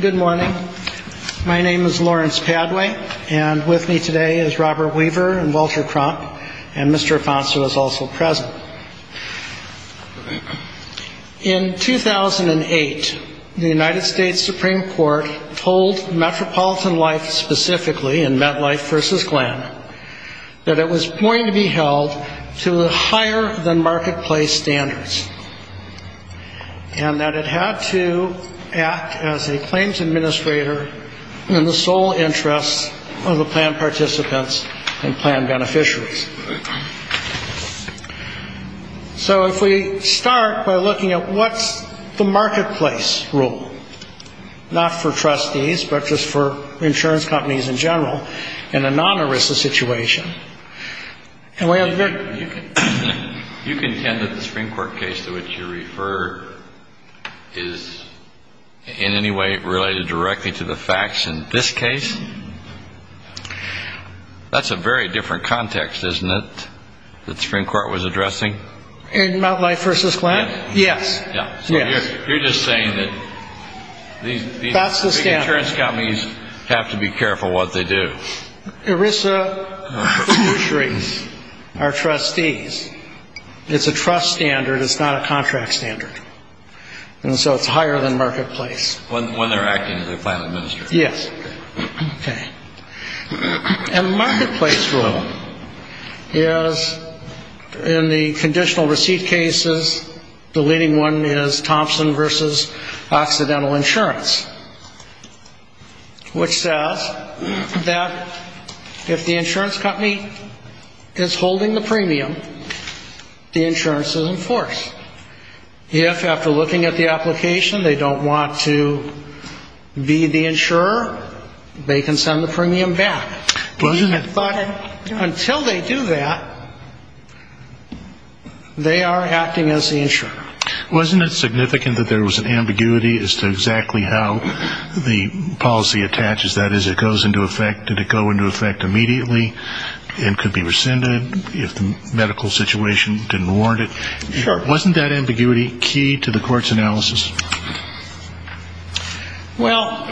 Good morning. My name is Lawrence Padway, and with me today is Robert Weaver and Walter Crump, and Mr. Affonso is also present. In 2008, the United States Supreme Court told Metropolitan Life specifically, in MetLife v. Glenn, that it was going to be held to higher than marketplace standards, and that it had to act as a claims administrator in the sole interest of the plan participants and plan beneficiaries. So if we start by looking at what's the marketplace rule, not for trustees, but just for insurance companies in general, in a non-ARISA situation, and we have very... You contend that the Supreme Court case to which you refer is in any way related directly to the facts in this case? That's a very different context, isn't it, that the Supreme Court was addressing? In MetLife v. Glenn? Yes. So you're just saying that these big insurance companies have to be careful what they do? ARISA beneficiaries are trustees. It's a trust standard. It's not a contract standard. And so it's higher than marketplace. When they're acting as a plan administrator? Yes. Okay. And the marketplace rule is, in the conditional receipt cases, the leading one is Thompson v. Occidental Insurance, which says that if the insurance company is holding the premium, the insurance is in force. If, after looking at the application, they don't want to be the insurer, they can send the premium back. But until they do that, they are acting as the insurer. Wasn't it significant that there was an ambiguity as to exactly how the policy attaches that? As it goes into effect, did it go into effect immediately and could be rescinded if the medical situation didn't warrant it? Sure. Wasn't that ambiguity key to the court's analysis? Well,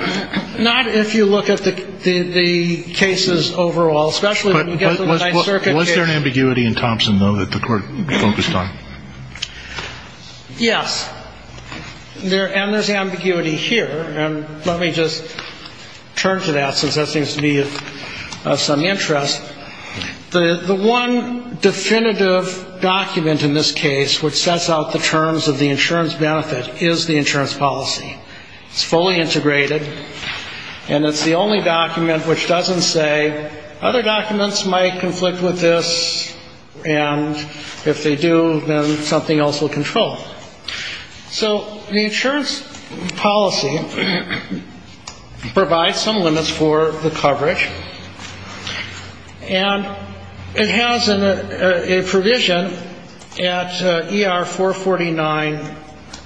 not if you look at the cases overall, especially when you get to the Ninth Circuit case. Was there an ambiguity in Thompson, though, that the court focused on? Yes. And there's ambiguity here. And let me just turn to that since that seems to be of some interest. The one definitive document in this case which sets out the terms of the insurance benefit is the insurance policy. It's fully integrated, and it's the only document which doesn't say other documents might conflict with this, and if they do, then something else will control. So the insurance policy provides some limits for the coverage, and it has a provision at ER449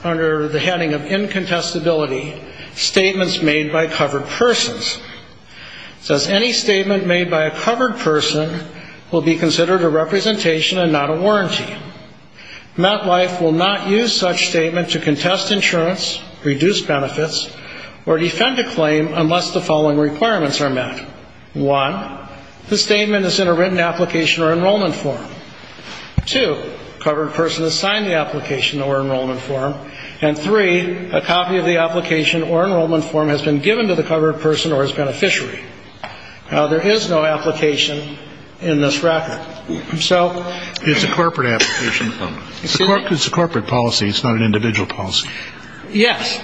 under the heading of incontestability, statements made by covered persons. It says any statement made by a covered person will be considered a representation and not a warranty. MetLife will not use such statement to contest insurance, reduce benefits, or defend a claim unless the following requirements are met. One, the statement is in a written application or enrollment form. Two, covered person has signed the application or enrollment form. And three, a copy of the application or enrollment form has been given to the covered person or his beneficiary. Now, there is no application in this record. It's a corporate application form. It's a corporate policy. It's not an individual policy. Yes,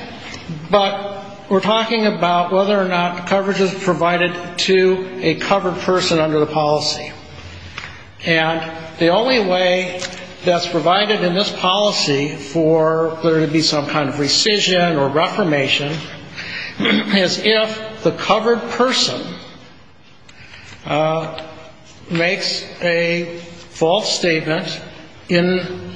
but we're talking about whether or not coverage is provided to a covered person under the policy, and the only way that's provided in this policy for there to be some kind of rescission or reformation is if the covered person makes a false statement in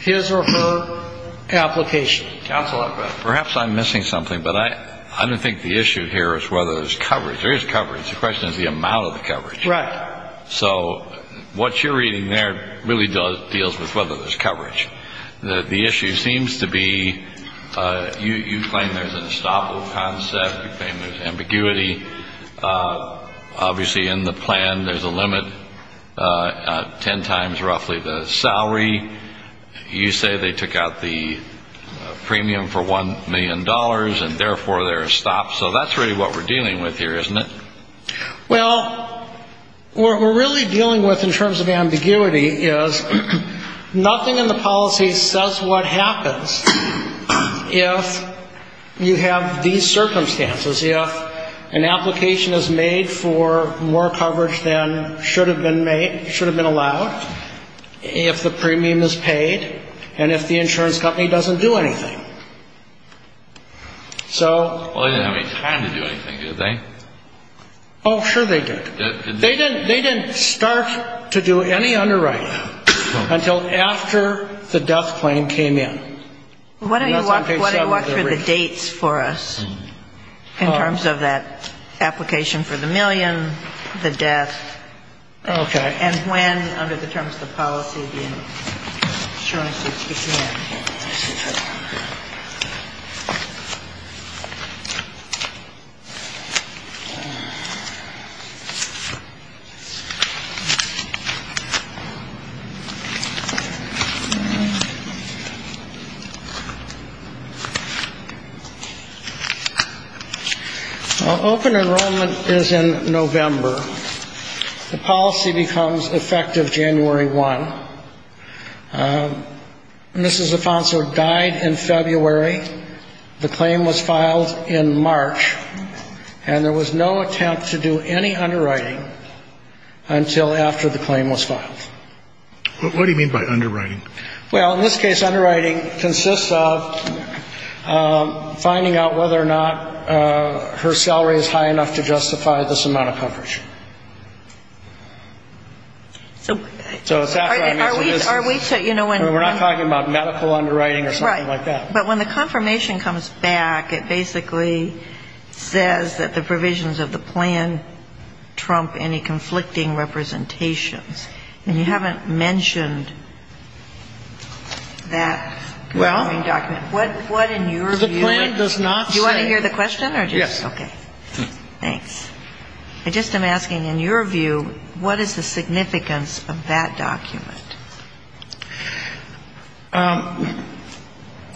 his or her application. Counsel, perhaps I'm missing something, but I don't think the issue here is whether there's coverage. There is coverage. The question is the amount of the coverage. Right. So what you're reading there really deals with whether there's coverage. The issue seems to be you claim there's an estoppel concept. You claim there's ambiguity. Obviously in the plan there's a limit ten times roughly the salary. You say they took out the premium for $1 million, and therefore there's a stop. So that's really what we're dealing with here, isn't it? Well, what we're really dealing with in terms of ambiguity is nothing in the policy says what happens if you have these circumstances, if an application is made for more coverage than should have been allowed, if the premium is paid, and if the insurance company doesn't do anything. Well, they didn't have any time to do anything, did they? Oh, sure they did. They didn't start to do any underwriting until after the death claim came in. Why don't you walk through the dates for us in terms of that application for the million, the death. Okay. And when under the terms of the policy the insurances began. Well, open enrollment is in November. The policy becomes effective January 1. Mrs. Afonso died in February. The claim was filed in March, and there was no attempt to do any underwriting until after the claim was filed. What do you mean by underwriting? Well, in this case, underwriting consists of finding out whether or not her salary is high enough to justify this amount of coverage. So it's that kind of business. We're not talking about medical underwriting or something like that. Right. But when the confirmation comes back, it basically says that the provisions of the plan trump any conflicting representations. And you haven't mentioned that. Well. What in your view. The plan does not say. Do you want to hear the question? Yes. Okay. Thanks. I just am asking, in your view, what is the significance of that document?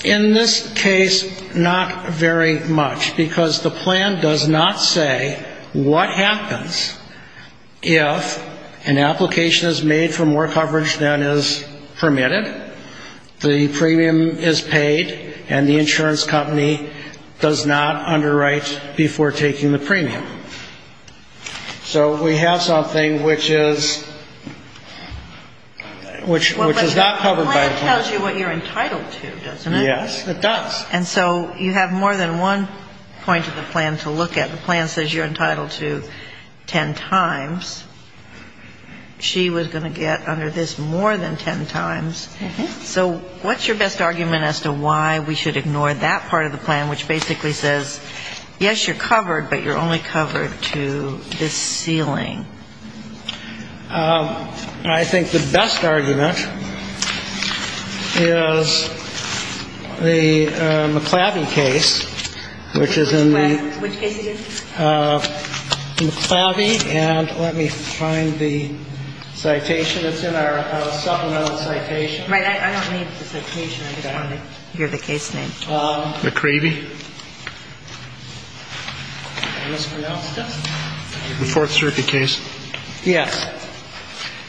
In this case, not very much, because the plan does not say what happens if an application is made for more coverage than is permitted, the premium is paid, and the insurance company does not underwrite before taking the premium. So we have something which is not covered by the plan. The plan tells you what you're entitled to, doesn't it? Yes, it does. And so you have more than one point of the plan to look at. The plan says you're entitled to ten times. She was going to get under this more than ten times. So what's your best argument as to why we should ignore that part of the plan, which basically says, yes, you're covered, but you're only covered to this ceiling? I think the best argument is the McLeavy case, which is in the. Which case is it? McLeavy, and let me find the citation. It's in our supplemental citation. Right. I don't need the citation. I just want to hear the case name. McLeavy. The Fourth Circuit case. Yes,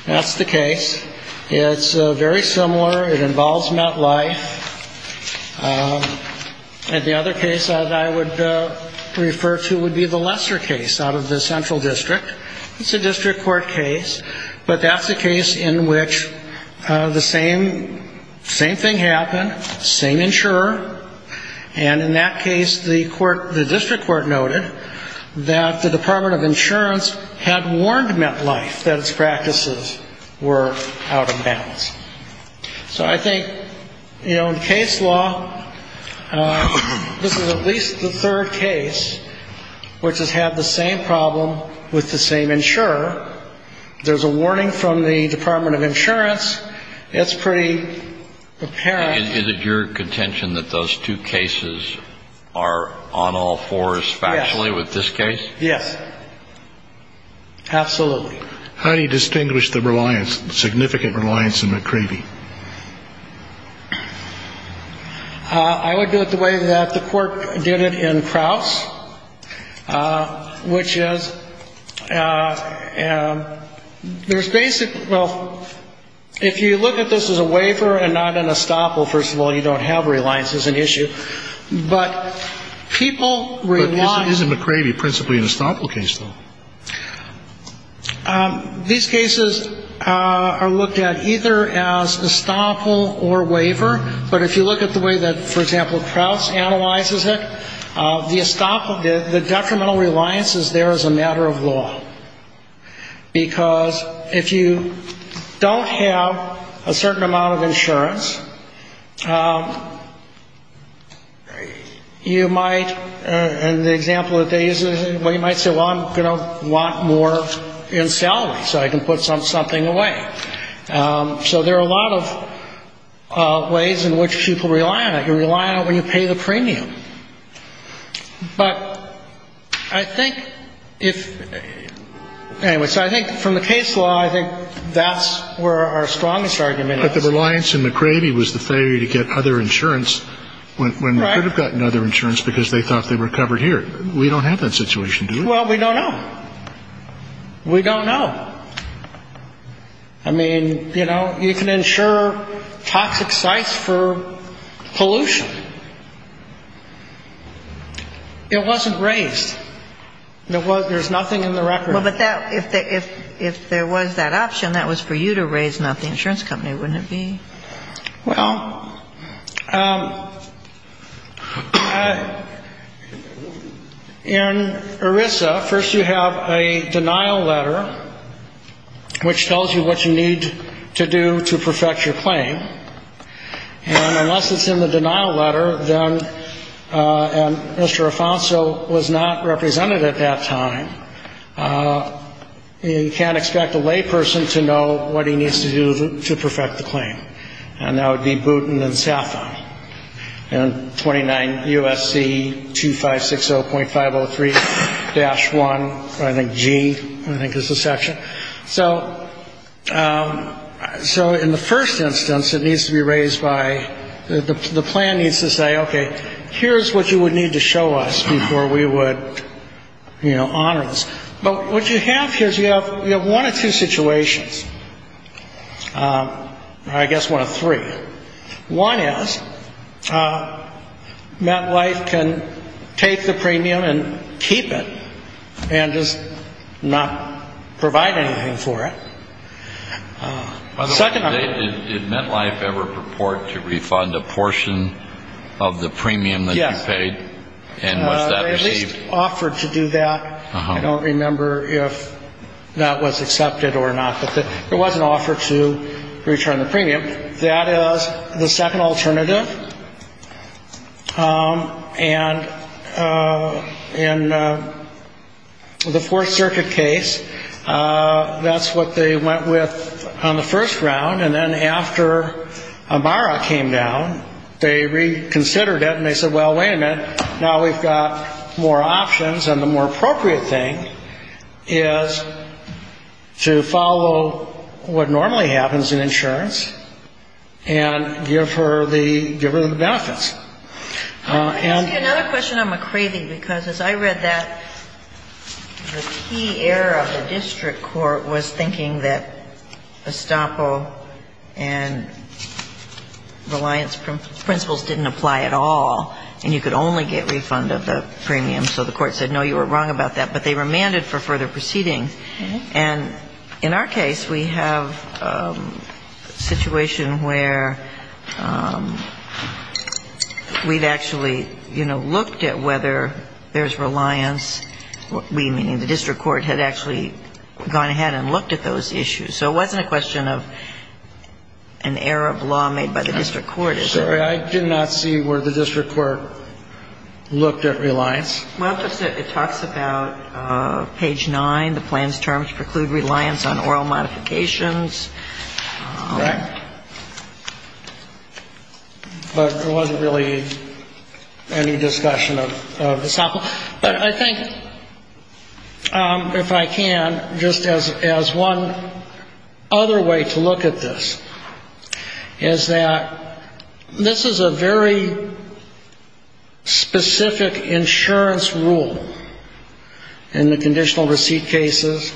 that's the case. It's very similar. It involves MetLife. And the other case that I would refer to would be the Lesser case out of the Central District. It's a district court case. But that's the case in which the same thing happened, same insurer. And in that case, the district court noted that the Department of Insurance had warned MetLife that its practices were out of bounds. So I think, you know, in case law, this is at least the third case which has had the same problem with the same insurer. There's a warning from the Department of Insurance. It's pretty apparent. Is it your contention that those two cases are on all fours factually with this case? Yes. Absolutely. How do you distinguish the reliance, significant reliance on McLeavy? I would do it the way that the court did it in Krauss, which is there's basically ‑‑ well, if you look at this as a waiver and not an estoppel, first of all, you don't have reliance as an issue. But people ‑‑ But isn't McLeavy principally an estoppel case, though? These cases are looked at either as estoppel or waiver. But if you look at the way that, for example, Krauss analyzes it, the estoppel, the detrimental reliance is there as a matter of law. Because if you don't have a certain amount of insurance, you might, in the example that they use, well, you might say, well, I'm going to want more in salary so I can put something away. So there are a lot of ways in which people rely on it. You rely on it when you pay the premium. But I think if ‑‑ anyway, so I think from the case law, I think that's where our strongest argument is. But the reliance in McLeavy was the failure to get other insurance when they could have gotten other insurance because they thought they were covered here. We don't have that situation, do we? Well, we don't know. We don't know. I mean, you know, you can insure toxic sites for pollution. It wasn't raised. There's nothing in the record. Well, but if there was that option, that was for you to raise, not the insurance company, wouldn't it be? Well, in ERISA, first you have a denial letter, which tells you what you need to do to perfect your claim. And unless it's in the denial letter, then Mr. Afonso was not represented at that time. You can't expect a layperson to know what he needs to do to perfect the claim. And that would be Boutin and Safon. And 29 U.S.C. 2560.503-1, I think G, I think is the section. So in the first instance, it needs to be raised by the plan needs to say, okay, here's what you would need to show us before we would, you know, honor this. But what you have here is you have one of two situations, or I guess one of three. One is, MetLife can take the premium and keep it and just not provide anything for it. By the way, did MetLife ever purport to refund a portion of the premium that you paid? Yes. And was that received? They at least offered to do that. I don't remember if that was accepted or not, but there was an offer to return the premium. That is the second alternative. And in the Fourth Circuit case, that's what they went with on the first round. And then after Amara came down, they reconsidered it and they said, well, wait a minute, now we've got more options. And the more appropriate thing is to follow what normally happens in insurance and give her the benefits. I see another question on McCravey, because as I read that, the key error of the district court was thinking that estoppel and reliance principles didn't apply at all, and you could only get refund of the premium. So the court said, no, you were wrong about that. But they remanded for further proceedings. And in our case, we have a situation where we've actually, you know, looked at whether there's reliance. We, meaning the district court, had actually gone ahead and looked at those issues. So it wasn't a question of an error of law made by the district court. I'm sorry, I did not see where the district court looked at reliance. Well, it talks about page 9, the plan's terms preclude reliance on oral modifications. Right. But there wasn't really any discussion of estoppel. But I think, if I can, just as one other way to look at this, is that this is a very specific insurance rule in the conditional receipt cases.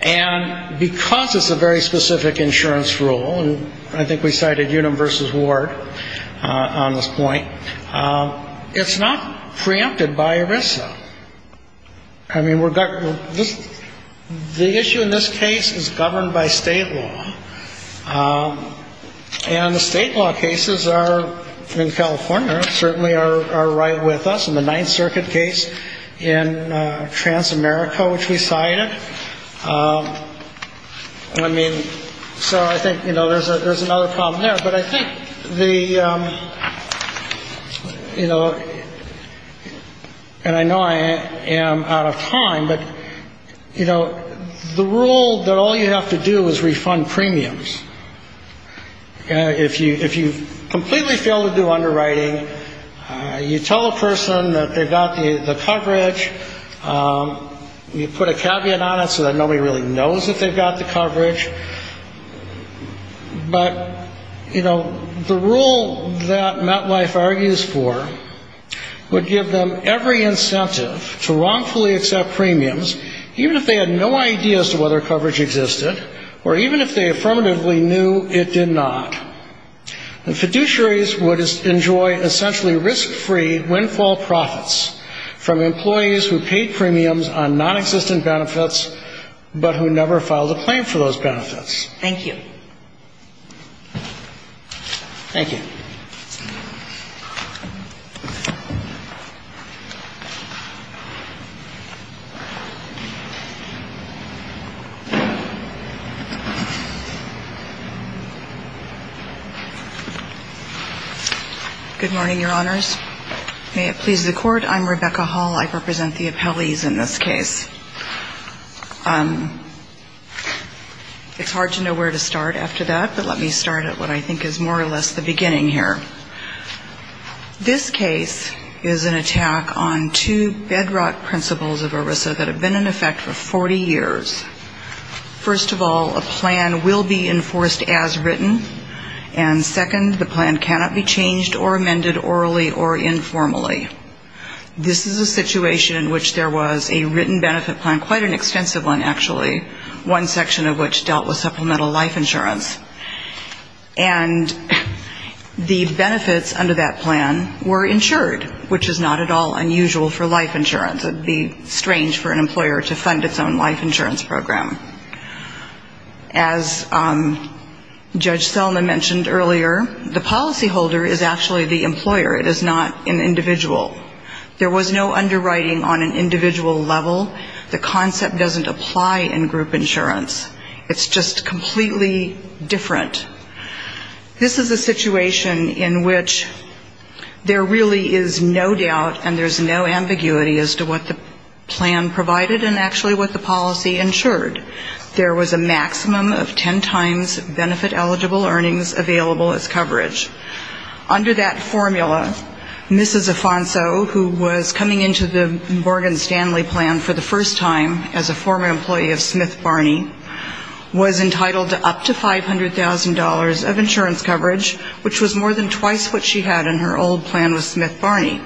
And because it's a very specific insurance rule, and I think we cited Unum v. Ward on this point, it's not preempted by ERISA. I mean, the issue in this case is governed by state law. And the state law cases are, in California, certainly are right with us. In the Ninth Circuit case in Transamerica, which we cited. I mean, so I think, you know, there's another problem there. But I think the, you know, and I know I am out of time, but, you know, the rule that all you have to do is refund premiums. If you if you completely fail to do underwriting, you tell a person that they've got the coverage. You put a caveat on it so that nobody really knows that they've got the coverage. But, you know, the rule that MetLife argues for would give them every incentive to wrongfully accept premiums, even if they had no idea as to whether coverage existed, or even if they affirmatively knew it did not. The fiduciaries would enjoy essentially risk-free windfall profits from employees who paid premiums on nonexistent benefits, but who never filed a claim for those benefits. Thank you. Thank you. Good morning, Your Honors. May it please the Court. I'm Rebecca Hall. I represent the appellees in this case. It's hard to know where to start after that, but let me start at what I think is more or less the beginning here. This case is an attack on two bedrock principles of ERISA that have been in effect for 40 years. First of all, a plan will be enforced as written. And second, the plan cannot be changed or amended orally or informally. This is a situation in which there was a written benefit plan, quite an extensive one, actually, one section of which dealt with supplemental life insurance. And the benefits under that plan were insured, which is not at all unusual for life insurance. It would be strange for an employer to fund its own life insurance program. As Judge Selma mentioned earlier, the policyholder is actually the employer. It is not an individual. There was no underwriting on an individual level. The concept doesn't apply in group insurance. It's just completely different. This is a situation in which there really is no doubt and there's no ambiguity as to what the plan provided and actually what the policy insured. There was a maximum of ten times benefit-eligible earnings available as coverage. Under that formula, Mrs. Afonso, who was coming into the Morgan Stanley plan for the first time as a former employee of Smith Barney, was entitled to up to $500,000 of insurance coverage, which was more than twice what she had in her old plan with Smith Barney.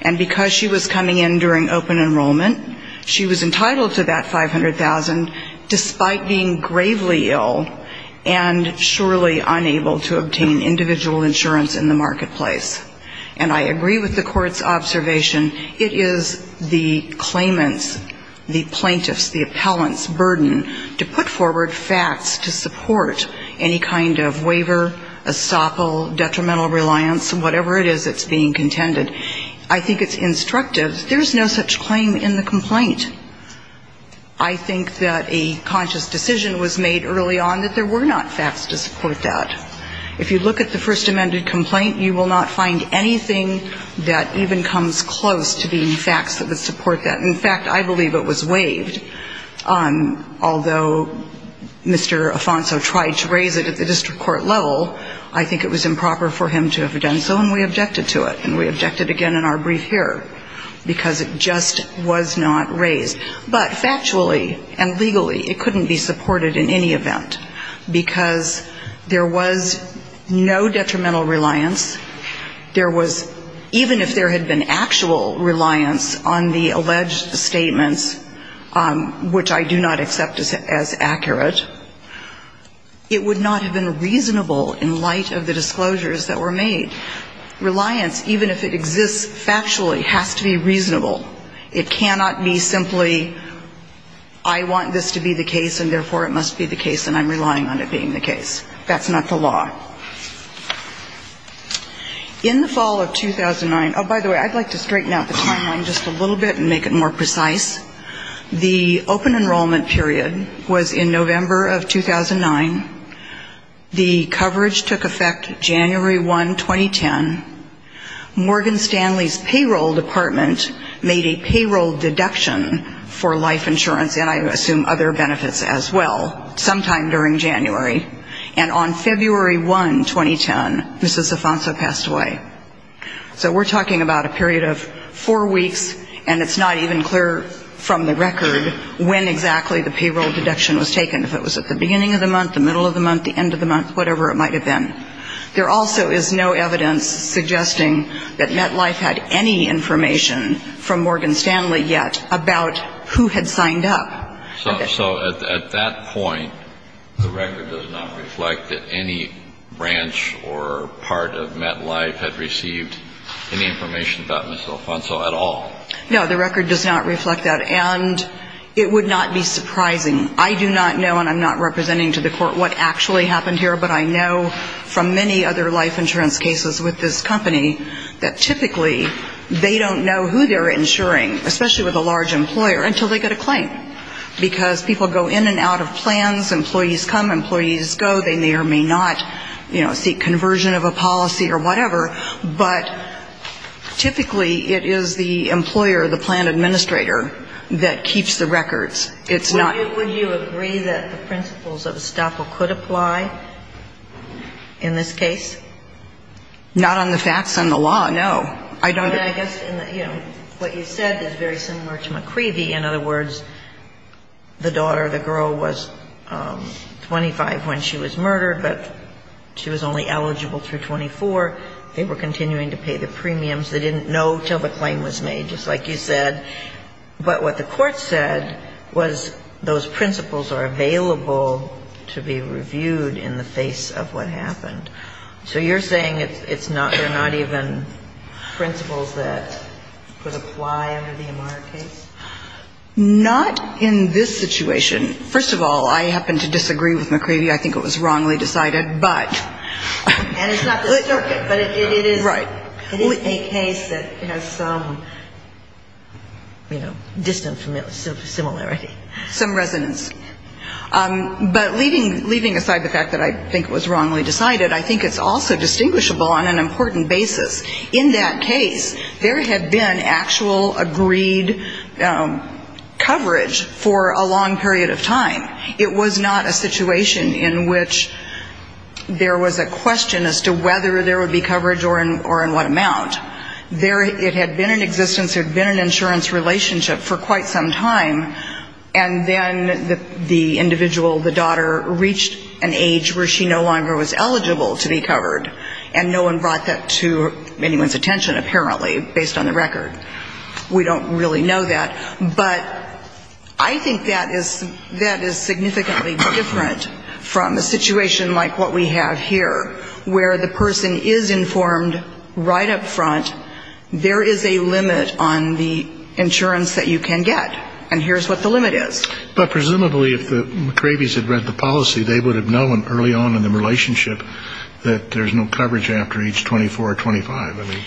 And because she was coming in during open enrollment, she was entitled to that $500,000, despite being gravely ill and surely unable to obtain individual insurance in the marketplace. And I agree with the court's observation. It is the claimant's, the plaintiff's, the appellant's burden to put forward facts to support any kind of waiver, estoppel, detrimental reliance, whatever it is that's being contended. I think it's instructive. There's no such claim in the complaint. I think that a conscious decision was made early on that there were not facts to support that. If you look at the first amended complaint, you will not find anything that even comes close to being facts that would support that. In fact, I believe it was waived. Although Mr. Afonso tried to raise it at the district court level, I think it was improper for him to have done so, and we objected to it. And we objected again in our brief here, because it just was not raised. But factually and legally, it couldn't be supported in any event, because there was no detrimental reliance. There was, even if there had been actual reliance on the alleged statements, which I do not accept as accurate, it would not have been reasonable in light of the disclosures that were made. Reliance, even if it exists factually, has to be reasonable. It cannot be simply I want this to be the case, and therefore it must be the case, and I'm relying on it being the case. That's not the law. In the fall of 2009, oh, by the way, I'd like to straighten out the timeline just a little bit and make it more precise. The open enrollment period was in November of 2009. The coverage took effect January 1, 2010. Morgan Stanley's payroll department made a payroll deduction for life insurance, and I assume other benefits as well, sometime during January. And on February 1, 2010, Mrs. Afonso passed away. So we're talking about a period of four weeks, and it's not even clear from the record when exactly the payroll deduction was taken. If it was at the beginning of the month, the middle of the month, the end of the month, whatever it might have been. There also is no evidence suggesting that MetLife had any information from Morgan Stanley yet about who had signed up. So at that point, the record does not reflect that any branch or part of MetLife had received any information about Mrs. Afonso at all? No, the record does not reflect that, and it would not be surprising. I do not know, and I'm not representing to the court what actually happened here, but I know from many other life insurance cases with this company that typically they don't know who they're insuring, especially with a large employer, until they get a claim. Because people go in and out of plans, employees come, employees go. They may or may not, you know, seek conversion of a policy or whatever. But typically, it is the employer, the plan administrator, that keeps the records. It's not ---- Would you agree that the principles of estoppel could apply in this case? Not on the facts on the law, no. I don't ---- I mean, I guess, you know, what you said is very similar to McCree v. In other words, the daughter, the girl was 25 when she was murdered, but she was only eligible through 24. They were continuing to pay the premiums. They didn't know until the claim was made, just like you said. But what the court said was those principles are available to be reviewed in the face of what happened. So you're saying it's not ---- they're not even principles that could apply under the Amara case? Not in this situation. First of all, I happen to disagree with McCree v. I think it was wrongly decided, but ---- And it's not the circuit, but it is ---- Right. It is a case that has some, you know, distant similarity. Some resonance. But leaving aside the fact that I think it was wrongly decided, I think it's also distinguishable on an important basis. In that case, there had been actual agreed coverage for a long period of time. It was not a situation in which there was a question as to whether there would be coverage or in what amount. There ---- it had been in existence, there had been an insurance relationship for quite some time, and then the individual, the daughter, reached an age where she no longer was eligible to be covered, and no one brought that to anyone's attention, apparently, based on the record. We don't really know that. But I think that is significantly different from a situation like what we have here, where the person is informed right up front there is a limit on the insurance that you can get. And here's what the limit is. But presumably, if the McCree vies had read the policy, they would have known early on in the relationship that there's no coverage after age 24 or 25.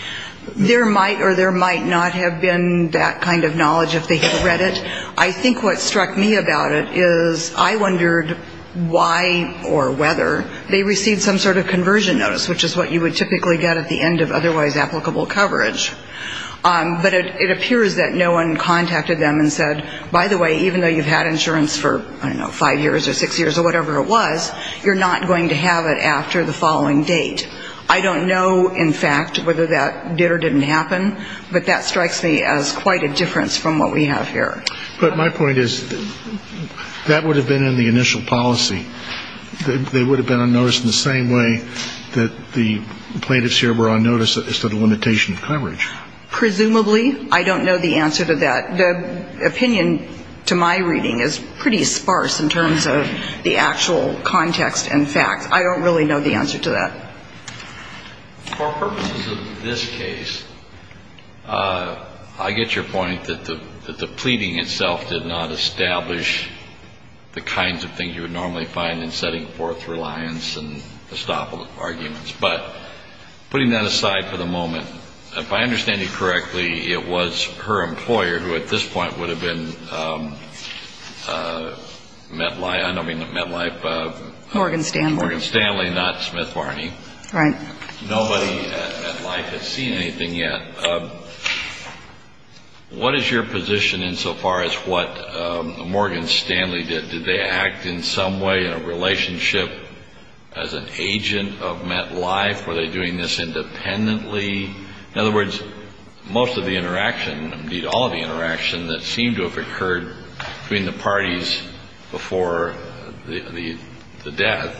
There might or there might not have been that kind of knowledge if they had read it. I think what struck me about it is I wondered why or whether they received some sort of conversion notice, which is what you would typically get at the end of otherwise applicable coverage. But it appears that no one contacted them and said, by the way, even though you've had insurance for, I don't know, five years or six years or whatever it was, you're not going to have it after the following date. I don't know, in fact, whether that did or didn't happen, but that strikes me as quite a difference from what we have here. But my point is that would have been in the initial policy. They would have been on notice in the same way that the plaintiffs here were on notice as to the limitation of coverage. Presumably. I don't know the answer to that. The opinion to my reading is pretty sparse in terms of the actual context and facts. I don't really know the answer to that. For purposes of this case, I get your point that the pleading itself did not establish the kinds of things you would normally find in setting forth reliance and estoppel arguments. But putting that aside for the moment, if I understand you correctly, it was her employer who at this point would have been MetLife. I don't mean MetLife. Morgan Stanley. Morgan Stanley, not Smith Varney. Right. Nobody at MetLife has seen anything yet. What is your position insofar as what Morgan Stanley did? Did they act in some way in a relationship as an agent of MetLife? Were they doing this independently? In other words, most of the interaction, indeed all of the interaction, that seemed to have occurred between the parties before the death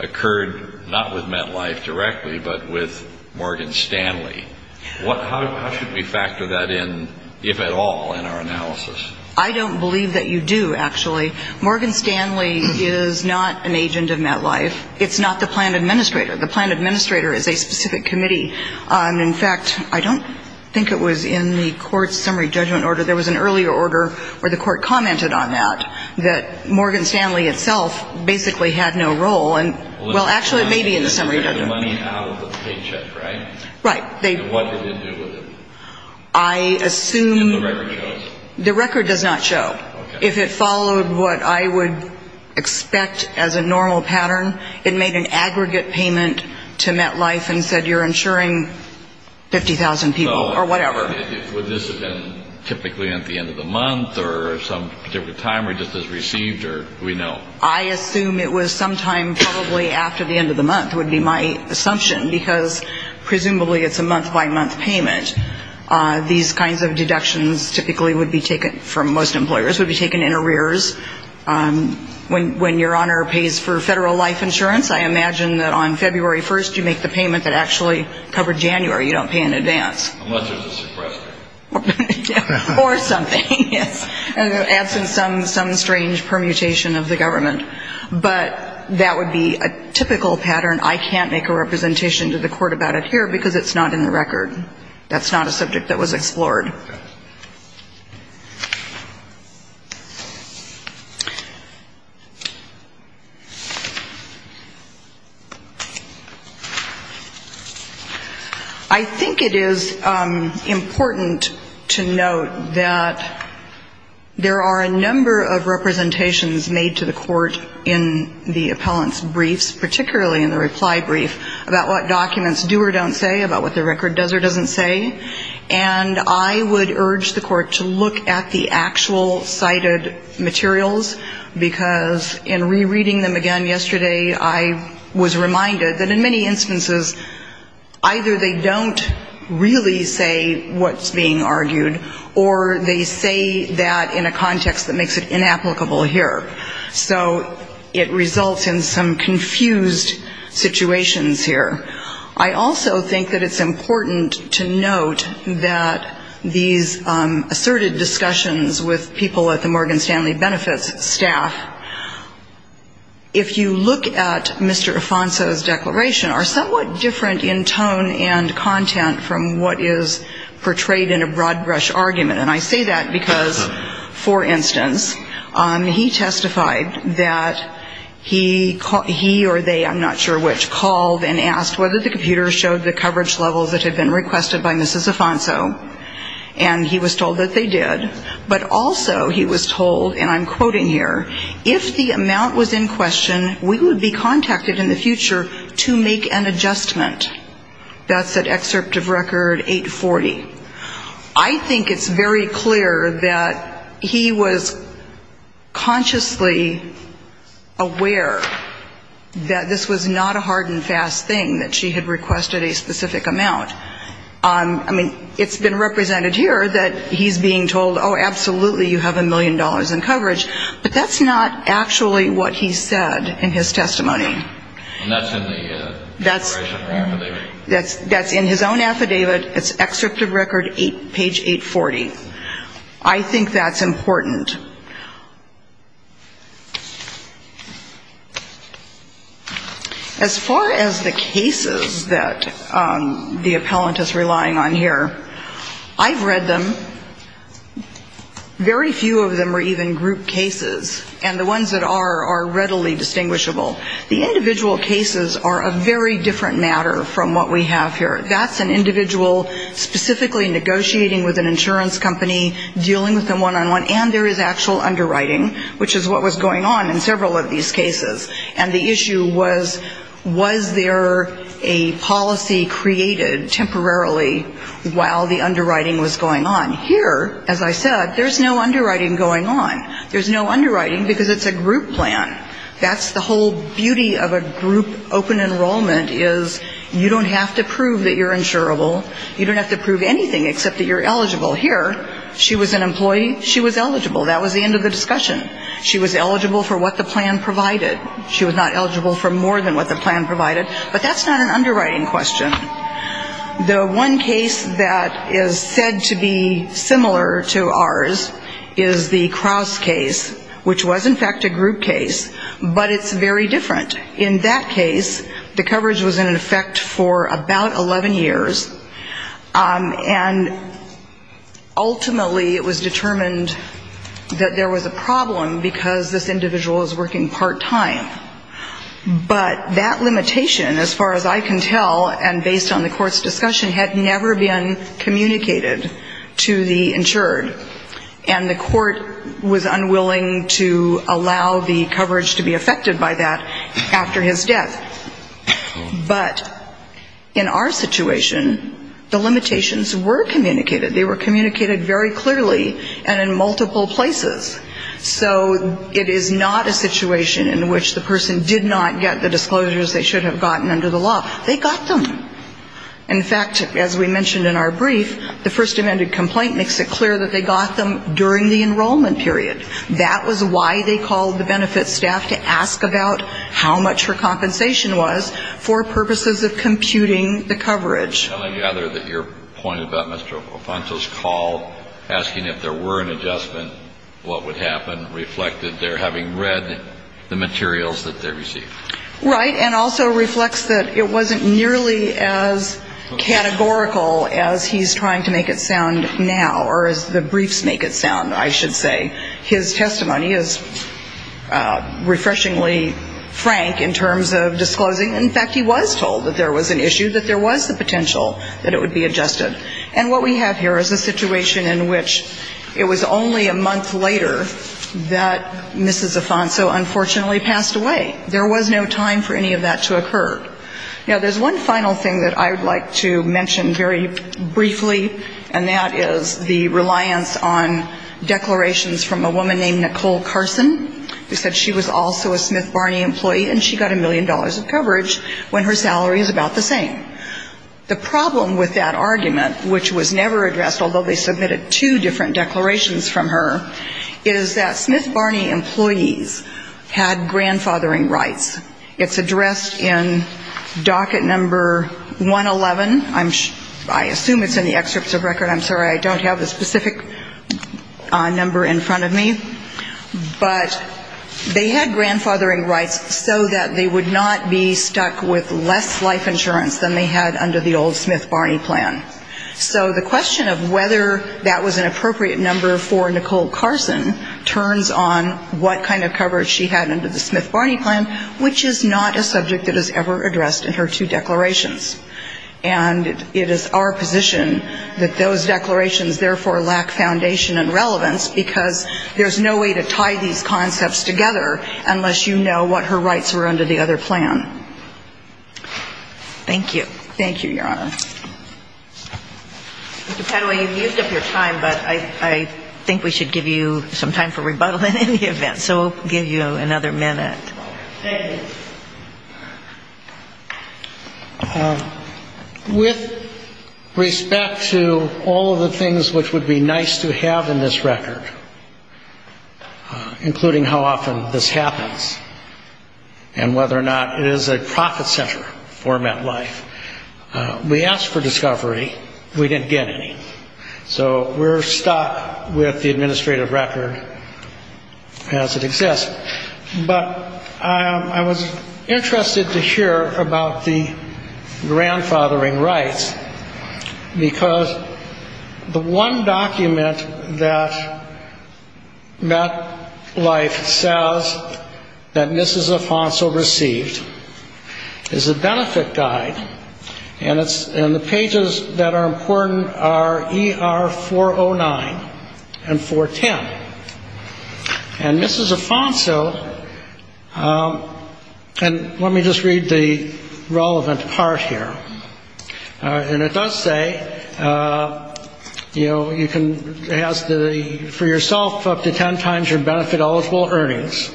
occurred not with MetLife directly, but with Morgan Stanley. How should we factor that in, if at all, in our analysis? I don't believe that you do, actually. Morgan Stanley is not an agent of MetLife. It's not the plan administrator. The plan administrator is a specific committee. In fact, I don't think it was in the court's summary judgment order. There was an earlier order where the court commented on that, that Morgan Stanley itself basically had no role. Well, actually, it may be in the summary judgment. They took the money out of the paycheck, right? Right. What did they do with it? I assume the record does not show. If it followed what I would expect as a normal pattern, it made an aggregate payment to MetLife and said you're insuring 50,000 people or whatever. Would this have been typically at the end of the month or some particular time or just as received? Or do we know? I assume it was sometime probably after the end of the month would be my assumption, because presumably it's a month-by-month payment. These kinds of deductions typically would be taken from most employers, would be taken in arrears. When Your Honor pays for federal life insurance, I imagine that on February 1st you make the payment that actually covered January. You don't pay in advance. Unless there's a suppressor. Or something, yes. And it adds in some strange permutation of the government. But that would be a typical pattern. I can't make a representation to the court about it here because it's not in the record. That's not a subject that was explored. I think it is important to note that there are a number of representations made to the court in the appellant's briefs, particularly in the reply brief about what documents do or don't say, about what the record does or doesn't say. And I would urge the court to look at the actual cited materials, because in rereading them again yesterday, I was reminded that in many instances, either they don't really say what's being argued, or they say that in a context that makes it inapplicable here. So it results in some confused situations here. I also think that it's important to note that these asserted discussions with people at the Morgan Stanley Benefits staff, if you look at Mr. Afonso's declaration, are somewhat different in tone and content from what is portrayed in a broad brush argument. And I say that because, for instance, he testified that he or they, I'm not sure which, called and asked whether the computer showed the coverage levels that had been requested by Mrs. Afonso, and he was told that they did. But also he was told, and I'm quoting here, if the amount was in question, we would be contacted in the future to make an adjustment. That's at excerpt of record 840. I think it's very clear that he was consciously aware that this was not a hard decision, fast thing, that she had requested a specific amount. I mean, it's been represented here that he's being told, oh, absolutely, you have a million dollars in coverage. But that's not actually what he said in his testimony. That's in his own affidavit, it's excerpt of record page 840. I think that's important. As far as the cases that the appellant is relying on here, I've read them. Very few of them are even group cases, and the ones that are are readily distinguishable. The individual cases are a very different matter from what we have here. That's an individual specifically negotiating with an insurance company, dealing with them one-on-one. And there is actual underwriting, which is what was going on in several of these cases. And the issue was, was there a policy created temporarily while the underwriting was going on? Here, as I said, there's no underwriting going on. There's no underwriting because it's a group plan. That's the whole beauty of a group open enrollment, is you don't have to prove that you're insurable. You don't have to prove anything except that you're eligible. Here, she was an employee, she was eligible, that was the end of the discussion. She was eligible for what the plan provided. She was not eligible for more than what the plan provided. But that's not an underwriting question. The one case that is said to be similar to ours is the Crouse case, which was, in fact, a group case, but it's very different. In that case, the coverage was in effect for about 11 years. And ultimately, it was determined that there was a problem because this individual was working part-time. But that limitation, as far as I can tell, and based on the Court's discussion, the limitations were communicated. They were communicated very clearly and in multiple places. So it is not a situation in which the person did not get the disclosures they should have gotten under the law. They got them. In fact, as we mentioned in our brief, the First Amendment complaint makes it clear that they got them during the enrollment period. That was why they called the benefits staff to ask about how much her compensation was for purposes of computing the coverage. And I gather that your point about Mr. Alfonso's call asking if there were an adjustment, what would happen, reflected their having read the materials that they received. Right, and also reflects that it wasn't nearly as categorical as he's trying to make it sound now, or as the briefs make it sound, I should say. His testimony is refreshingly frank in terms of disclosing. In fact, he was told that there was an issue, that there was the potential that it would be adjusted. And what we have here is a situation in which it was only a month later that Mrs. Alfonso unfortunately passed away. There was no time for any of that to occur. Now, there's one final thing that I would like to mention very briefly, and that is the reliance on declarations from a woman named Nicole Carson, who said she was also a Smith Barney employee, and she got a million dollars of coverage when her salary is about the same. The problem with that argument, which was never addressed, although they submitted two different declarations from her, is that Smith Barney employees had grandfathering disabilities. It's addressed in docket number 111. I assume it's in the excerpts of record. I'm sorry. I don't have a specific number in front of me. But they had grandfathering rights, so that they would not be stuck with less life insurance than they had under the old Smith Barney plan. So the question of whether that was an appropriate number for Nicole Carson turns on what kind of coverage she had under the Smith Barney plan, because it's not. And it is our position that those declarations, therefore, lack foundation and relevance, because there's no way to tie these concepts together unless you know what her rights were under the other plan. Thank you. Thank you, Your Honor. Mr. Padua, you've used up your time, but I think we should give you some time for rebuttal in any event. So we'll give you another minute. Thank you. With respect to all of the things which would be nice to have in this record, including how often this happens and whether or not it is a profit-centered format life, we asked for discovery. We didn't get any. So we're stuck with the administrative record as it exists. But I was interested to hear about the grandfathering rights, because the one document that MetLife says that Mrs. Afonso received is a benefit guide. And the pages that are important are ER 409 and 410. And Mrs. Afonso, and let me just read the relevant part here. And it does say, you know, you can ask for yourself up to ten times your benefit-eligible earnings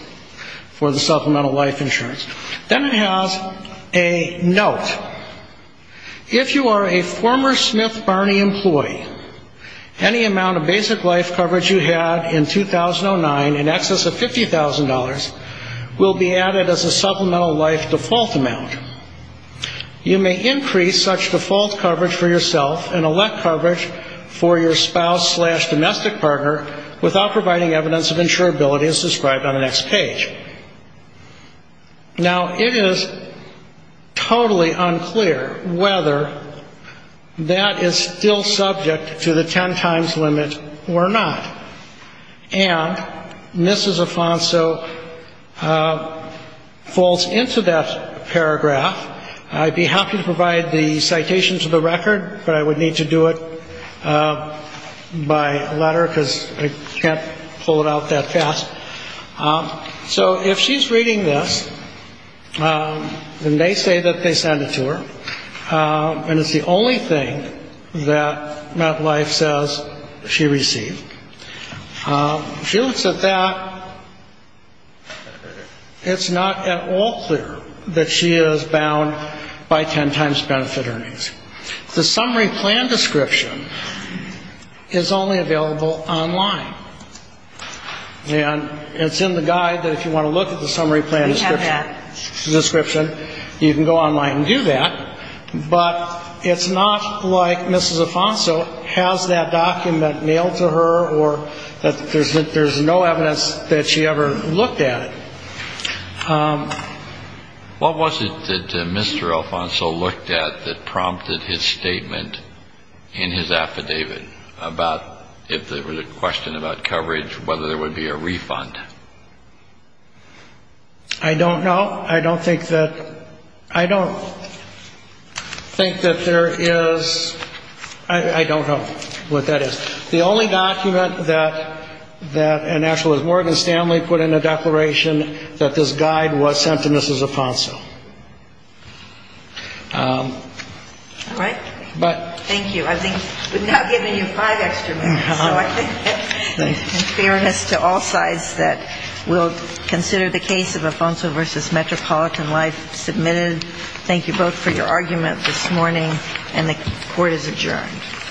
for the supplemental life insurance. Then it has a note. Now, it is totally unclear whether that is still subject to the ten-times limit or not. And Mrs. Afonso falls into that paragraph. I'd be happy to provide the citation to the record, but I would need to do it by letter, because I can't pull it out that fast. So if she's reading this, and they say that they sent it to her, and it's the only thing that MetLife says she received. Now, if she looks at that, it's not at all clear that she is bound by ten-times benefit earnings. The summary plan description is only available online. And it's in the guide that if you want to look at the summary plan description, you can go online and do that. But it's not like Mrs. Afonso has that document mailed to her, or that there's a link to it. There's no evidence that she ever looked at it. What was it that Mr. Afonso looked at that prompted his statement in his affidavit about if there was a question about coverage, whether there would be a refund? I don't know. I don't think that there is. I don't know what that is. But the only document that an actualist, Morgan Stanley, put in the declaration that this guide was sent to Mrs. Afonso. All right. Thank you. I think we've now given you five extra minutes. So I think in fairness to all sides that will consider the case of Afonso v. Metropolitan Life submitted, thank you both for your argument this morning. And the Court is adjourned.